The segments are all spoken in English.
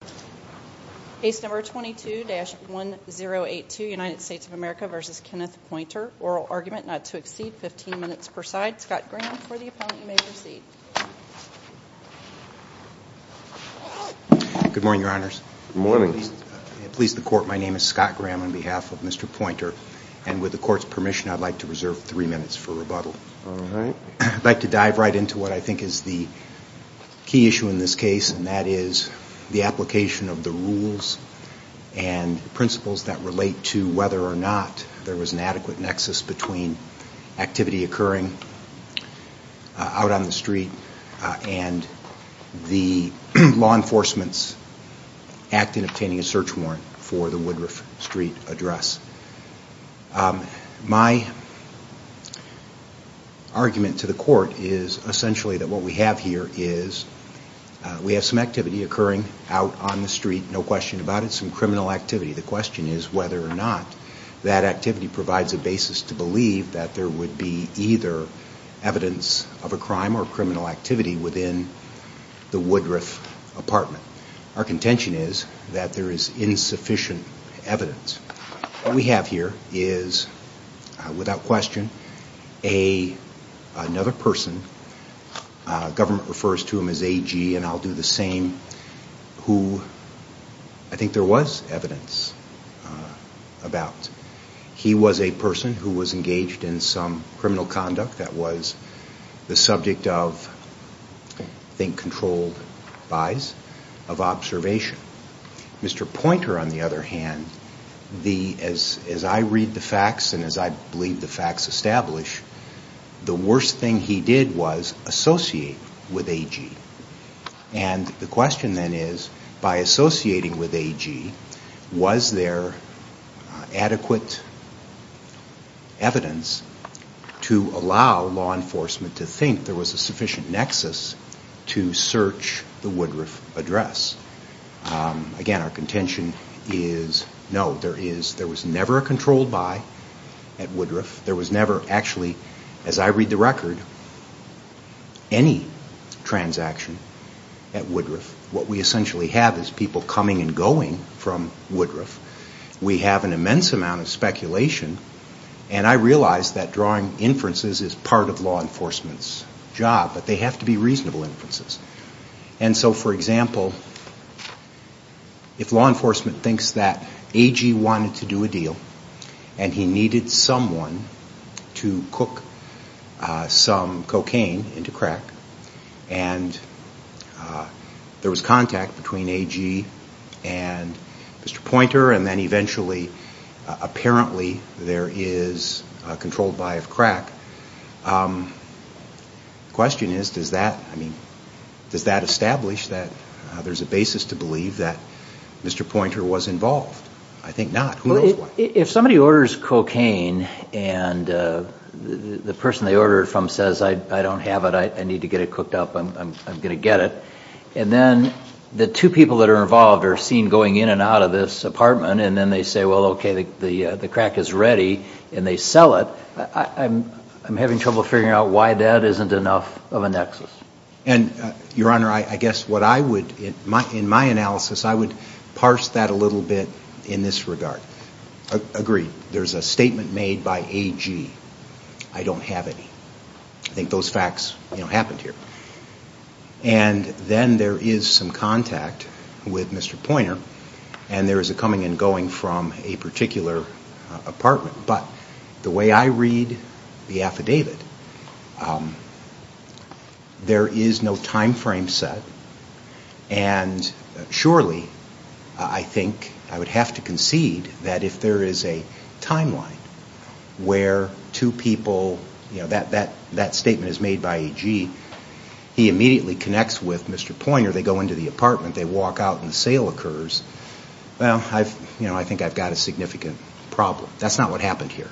oral argument not to exceed 15 minutes per side. Scott Graham for the opponent, you may proceed. Good morning, your honors. Good morning. Please the court, my name is Scott Graham on behalf of Mr. Pointer, and with the court's permission, I'd like to reserve three minutes for rebuttal. I'd like to dive right into what I think is the key issue in this case, and that is the application of the rules and principles that relate to whether or not there was an adequate nexus between activity occurring out on the street and the law enforcement's act in obtaining a search warrant for the Woodruff Street address. My argument to the court is essentially that what we have here is we have some activity occurring out on the street, no question about it, some criminal activity. The question is whether or not that activity provides a basis to believe that there would be either evidence of a crime or criminal activity within the Woodruff apartment. Our contention is that there is insufficient evidence. What we have here is, without question, another person, government refers to him as AG, and I'll do the same, who I think there was evidence about. He was a person who was engaged in some criminal conduct that was the subject of, I think, controlled buys, of observation. Mr. Pointer, on the other hand, as I read the facts and as I believe the facts establish, the worst thing he did was associate with AG. And the question then is, by associating with AG, was there adequate evidence to allow law enforcement to think there was a sufficient nexus to search the Woodruff address? Again, our contention is no, there was never a controlled buy at Woodruff. There was never actually, as I read the record, any transaction at Woodruff. What we essentially have is people coming and going from Woodruff. We have an immense amount of speculation, and I realize that drawing inferences is part of law enforcement's job, but they have to be reasonable inferences. And so, for example, if law enforcement thinks that AG wanted to do a deal, and he needed someone to cook some cocaine into crack, and there was contact between AG and Mr. Pointer, and then eventually, apparently, there is a controlled buy of crack. The question is, does that establish that there is a basis to believe that Mr. Pointer was involved? I think not. Who knows why? If somebody orders cocaine, and the person they order it from says, I don't have it, I need to get it cooked up, I'm going to get it, and then the two people that are involved are seen going in and out of this apartment, and then they say, well, okay, the crack is ready, and they sell it, I'm having trouble figuring out why that isn't enough of a nexus. Your Honor, I guess in my analysis, I would parse that a little bit in this regard. Agree, there's a statement made by AG, I don't have any. I think those facts happened here. And then there is some contact with Mr. Pointer, and there is a coming and going from a particular apartment. But the way I read the affidavit, there is no time frame set, and surely, I think I would have to concede that if there is a timeline where two people, that statement is made by AG, immediately connects with Mr. Pointer, they go into the apartment, they walk out, and the sale occurs, well, I think I've got a significant problem. That's not what happened here.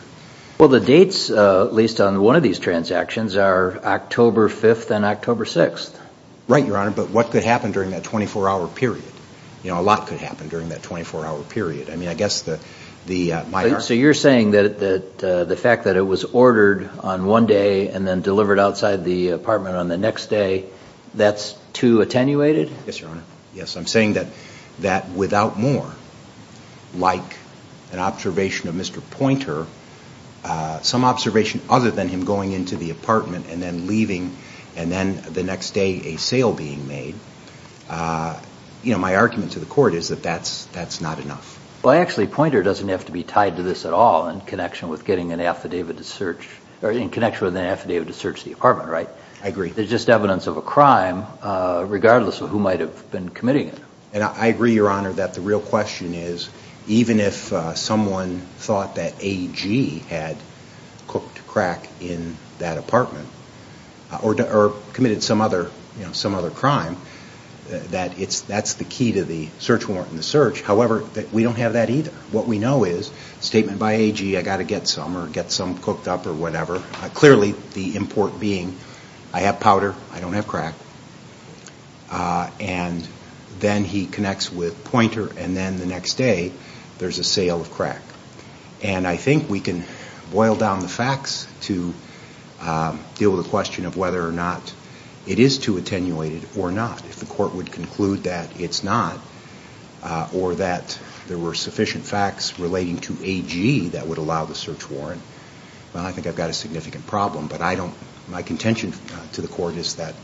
Well, the dates, at least on one of these transactions, are October 5th and October 6th. Right, Your Honor, but what could happen during that 24-hour period? A lot could happen during that 24-hour period. I mean, I guess the... So you're saying that the fact that it was ordered on one day and then delivered outside the apartment on the next day, that's too attenuated? Yes, Your Honor. Yes, I'm saying that without more, like an observation of Mr. Pointer, some observation other than him going into the apartment and then leaving, and then the next day a sale being made, you know, my argument to the court is that that's not enough. Well, actually, Pointer doesn't have to be tied to this at all in connection with getting an affidavit to search, or in connection with an affidavit to search the apartment, right? I agree. There's just evidence of a crime regardless of who might have been committing it. And I agree, Your Honor, that the real question is, even if someone thought that AG had cooked crack in that apartment, or committed some other crime, that that's the key to the search warrant and the search. However, we don't have that either. What we know is, statement by AG, I got to get some or get some cooked up or whatever. Clearly, the import being, I have powder, I don't have crack, and then he connects with Pointer, and then the next day there's a sale of crack. And I think we can boil down the facts to deal with the question of whether or not it is too attenuated or not. If the court would conclude that it's not, or that there were sufficient facts relating to AG that would allow the search warrant, well, I think I've got a significant problem. But my contention to the court is that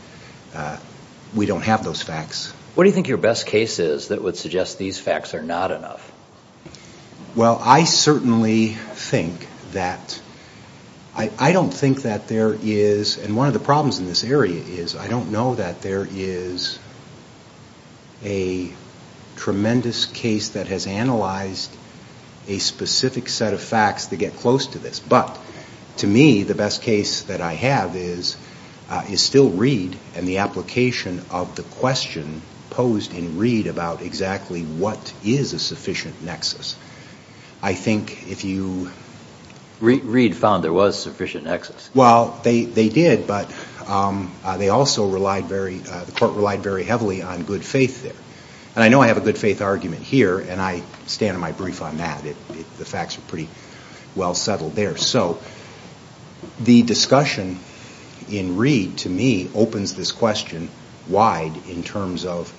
we don't have those facts. What do you think your best case is that would suggest these facts are not enough? Well, I certainly think that, I don't think that there is, and one of the problems in this area is, I don't know that there is a tremendous case that has analyzed a specific set of facts that get close to this. But, to me, the best case that I have is, is still Reed and the application of the question posed in Reed about exactly what is a sufficient nexus. I think if you... Reed found there was sufficient nexus. Well, they did, but they also relied very, the court relied very heavily on good faith there. And I know I have a good faith argument here, and I stand on my brief on that. The facts are pretty well settled there. So, the discussion in Reed, to me, opens this question wide in terms of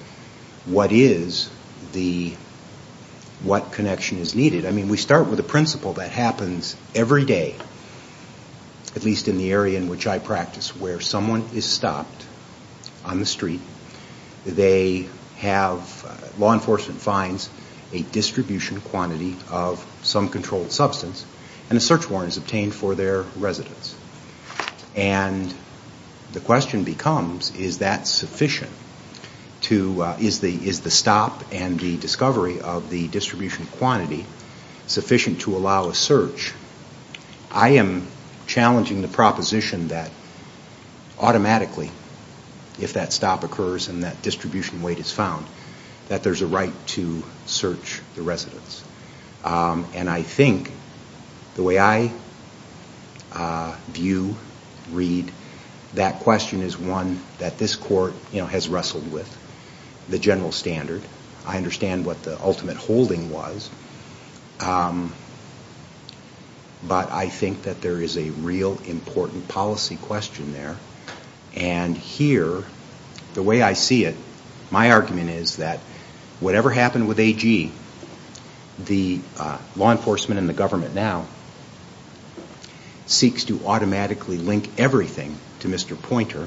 what is the, what connection is needed. I mean, we start with a principle that happens every day, at least in the area in which I practice, where someone is stopped on the street. They have, law enforcement finds a distribution quantity of some controlled substance, and a search warrant is obtained for their residence. And the question becomes, is that sufficient to, is the stop and the discovery of the distribution quantity sufficient to allow a search? I am challenging the proposition that automatically, if that stop occurs and that distribution weight is found, that there's a right to search the residence. And I think, the way I view Reed, that question is one that this court, you know, has wrestled with. The general standard, I understand what the ultimate holding was. But I think that there is a real important policy question there. And here, the way I see it, my argument is that whatever happened with AG, the law enforcement and the government now, seeks to automatically link everything to Mr. Pointer.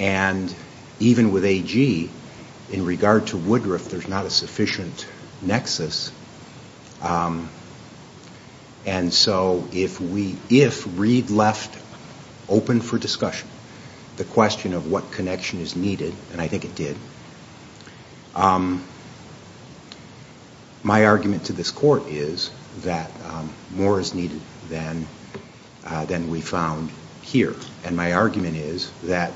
And even with AG, in regard to Woodruff, there's not a sufficient nexus. And so, if Reed left open for discussion the question of what connection is needed, and I think it did, my argument to this court is that more is needed than we found here. And my argument is that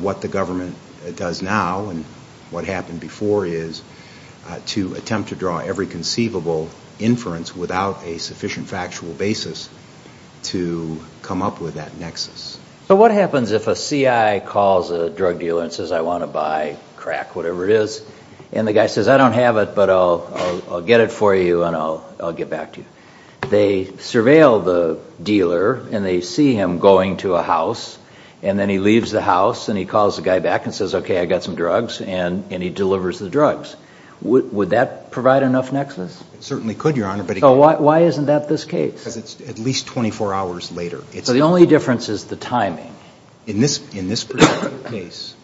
what the government does now, and what happened before, is to attempt to draw every conceivable inference without a sufficient factual basis to come up with that nexus. So what happens if a CI calls a drug dealer and says, I want to buy crack, whatever it is, and the guy says, I don't have it, but I'll get it for you and I'll get back to you. They surveil the dealer, and they see him going to a house, and then he leaves the house, and he calls the guy back and says, okay, I got some drugs, and he delivers the drugs. Would that provide enough nexus? It certainly could, Your Honor. Why isn't that this case? Because it's at least 24 hours later. So the only difference is the timing. In this particular case,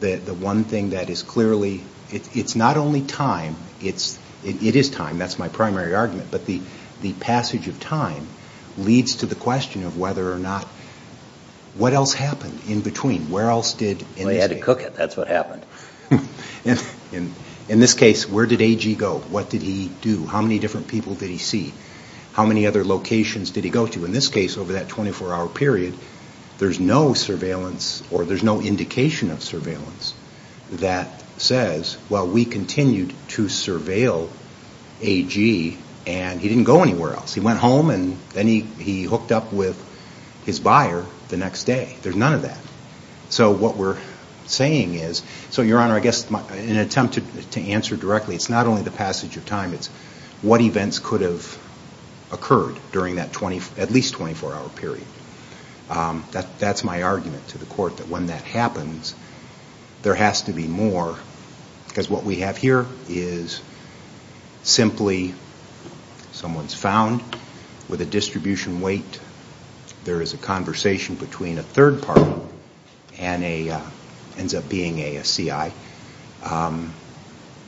the one thing that is clearly, it's not only time, it is time, that's my primary argument. The passage of time leads to the question of whether or not, what else happened in between? Where else did... They had to cook it, that's what happened. In this case, where did AG go? What did he do? How many different people did he see? How many other locations did he go to? In this case, over that 24-hour period, there's no surveillance, or there's no indication of surveillance that says, well, we continued to surveil AG, and he didn't go anywhere else. He went home, and then he hooked up with his buyer the next day. There's none of that. So what we're saying is... So, Your Honor, I guess in an attempt to answer directly, it's not only the passage of time, it's what events could have occurred during that at least 24-hour period. That's my argument to the court, that when that happens, there has to be more. Because what we have here is simply, someone's found with a distribution weight, there is a conversation between a third party, and it ends up being a CI.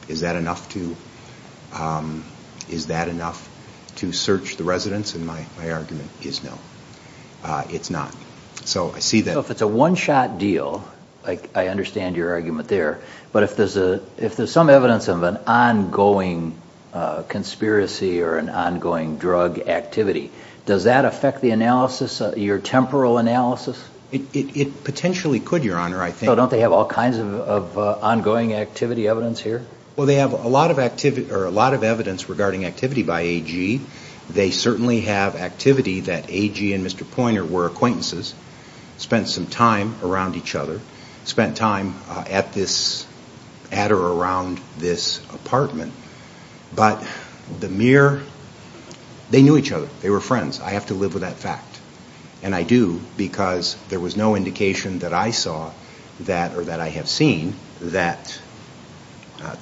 Is that enough to search the residence? And my argument is no. It's not. So I see that... So if it's a one-shot deal, I understand your argument there, but if there's some evidence of an ongoing conspiracy or an ongoing drug activity, does that affect the analysis, your temporal analysis? It potentially could, Your Honor. Don't they have all kinds of ongoing activity evidence here? Well, they have a lot of evidence regarding activity by AG. They certainly have activity that AG and Mr. Pointer were acquaintances, spent some time around each other, spent time at or around this apartment. But the mere... They knew each other. They were friends. I have to live with that fact. And I do, because there was no indication that I saw, or that I have seen, that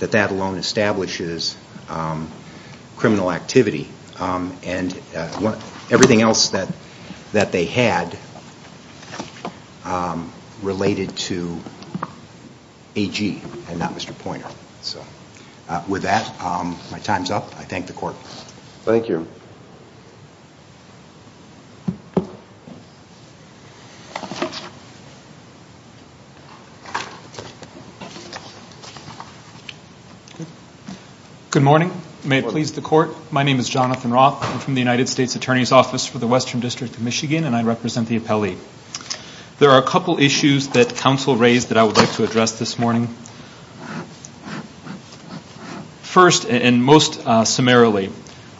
that alone establishes criminal activity. And everything else that they had related to AG and not Mr. Pointer. With that, my time's up. I thank the Court. Thank you. Good morning. May it please the Court. My name is Jonathan Roth. I'm from the United States Attorney's Office for the Western District of Michigan, and I represent the appellee. There are a couple issues that counsel raised that I would like to address this morning. First, and most summarily,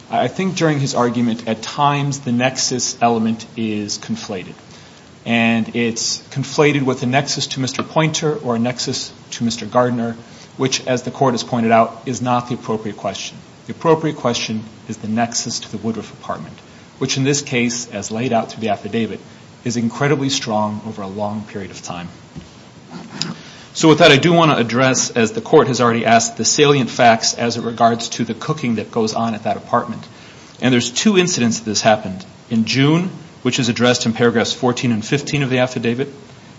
I think during his argument, at times the nexus element is conflated. And it's conflated with a nexus to Mr. Pointer or a nexus to Mr. Gardner, which, as the Court has pointed out, is not the appropriate question. The appropriate question is the nexus to the Woodruff apartment, which in this case, as laid out through the affidavit, is incredibly strong over a long period of time. So with that, I do want to address, as the Court has already asked, the salient facts as it regards to the cooking that goes on at that apartment. And there's two incidents that this happened. In June, which is addressed in paragraphs 14 and 15 of the affidavit,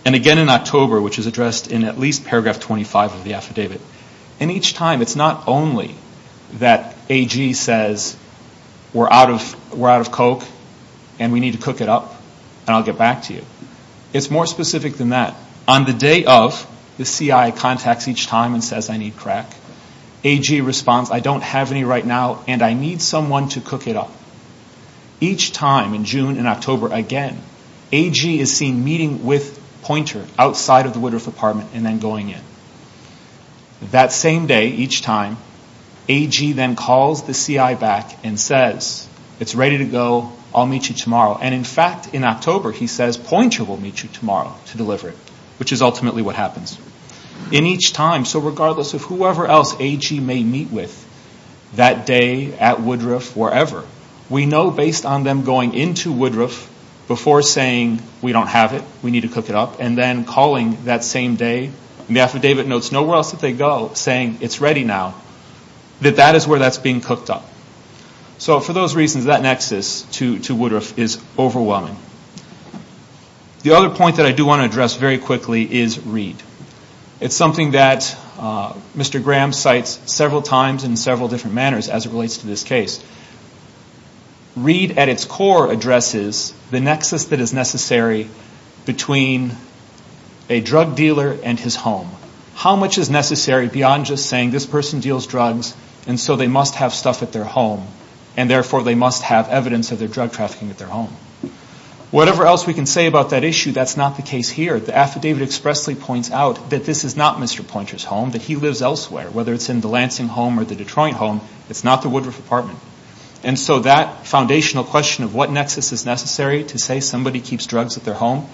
and again in October, which is addressed in at least paragraph 25 of the affidavit. And each time, it's not only that AG says, we're out of Coke, and we need to cook it up, and I'll get back to you. It's more specific than that. On the day of, the CI contacts each time and says, I need crack. AG responds, I don't have any right now, and I need someone to cook it up. Each time, in June and October again, AG is seen meeting with Pointer outside of the Woodruff apartment and then going in. That same day, each time, AG then calls the CI back and says, it's ready to go, I'll meet you tomorrow. And in fact, in October, he says, Pointer will meet you tomorrow to deliver it, which is ultimately what happens. In each time, so regardless of whoever else AG may meet with that day at Woodruff, wherever, we know based on them going into Woodruff before saying, we don't have it, we need to cook it up, and then calling that same day, and the affidavit notes nowhere else that they go, saying it's ready now, that that is where that's being cooked up. So for those reasons, that nexus to Woodruff is overwhelming. The other point that I do want to address very quickly is read. It's something that Mr. Graham cites several times in several different manners as it relates to this case. Read at its core addresses the nexus that is necessary between a drug dealer and his home. How much is necessary beyond just saying, this person deals drugs, and so they must have stuff at their home, and therefore they must have evidence of their drug trafficking at their home. Whatever else we can say about that issue, that's not the case here. The affidavit expressly points out that this is not Mr. Pointer's home, that he lives elsewhere. Whether it's in the Lansing home or the Detroit home, it's not the Woodruff apartment. And so that foundational question of what nexus is necessary to say somebody keeps drugs at their home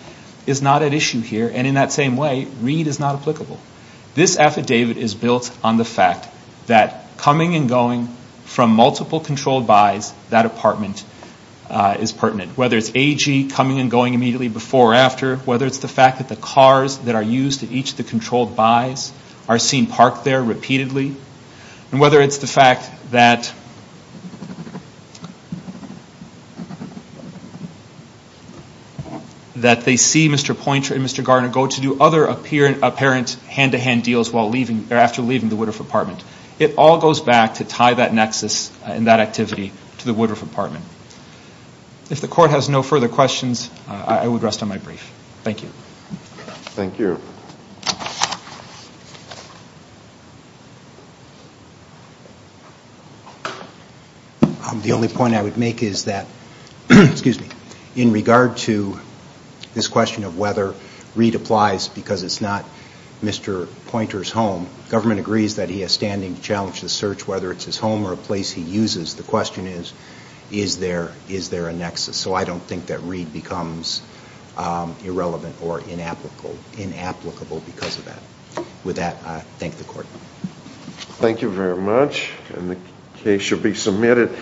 is not at issue here, and in that same way, read is not applicable. This affidavit is built on the fact that coming and going from multiple controlled buys, that apartment is pertinent. Whether it's AG coming and going immediately before or after, whether it's the fact that the cars that are used at each of the controlled buys are seen parked there repeatedly, and whether it's the fact that they see Mr. Pointer and Mr. Garner go to do other apparent hand-to-hand deals after leaving the Woodruff apartment. It all goes back to tie that nexus and that activity to the Woodruff apartment. If the court has no further questions, I would rest on my brief. Thank you. Thank you. Thank you. The only point I would make is that, excuse me, in regard to this question of whether read applies because it's not Mr. Pointer's home, government agrees that he has standing to challenge the search, whether it's his home or a place he uses. The question is, is there a nexus? So I don't think that read becomes irrelevant or inapplicable because of that. With that, I thank the court. Thank you very much. And the case shall be submitted.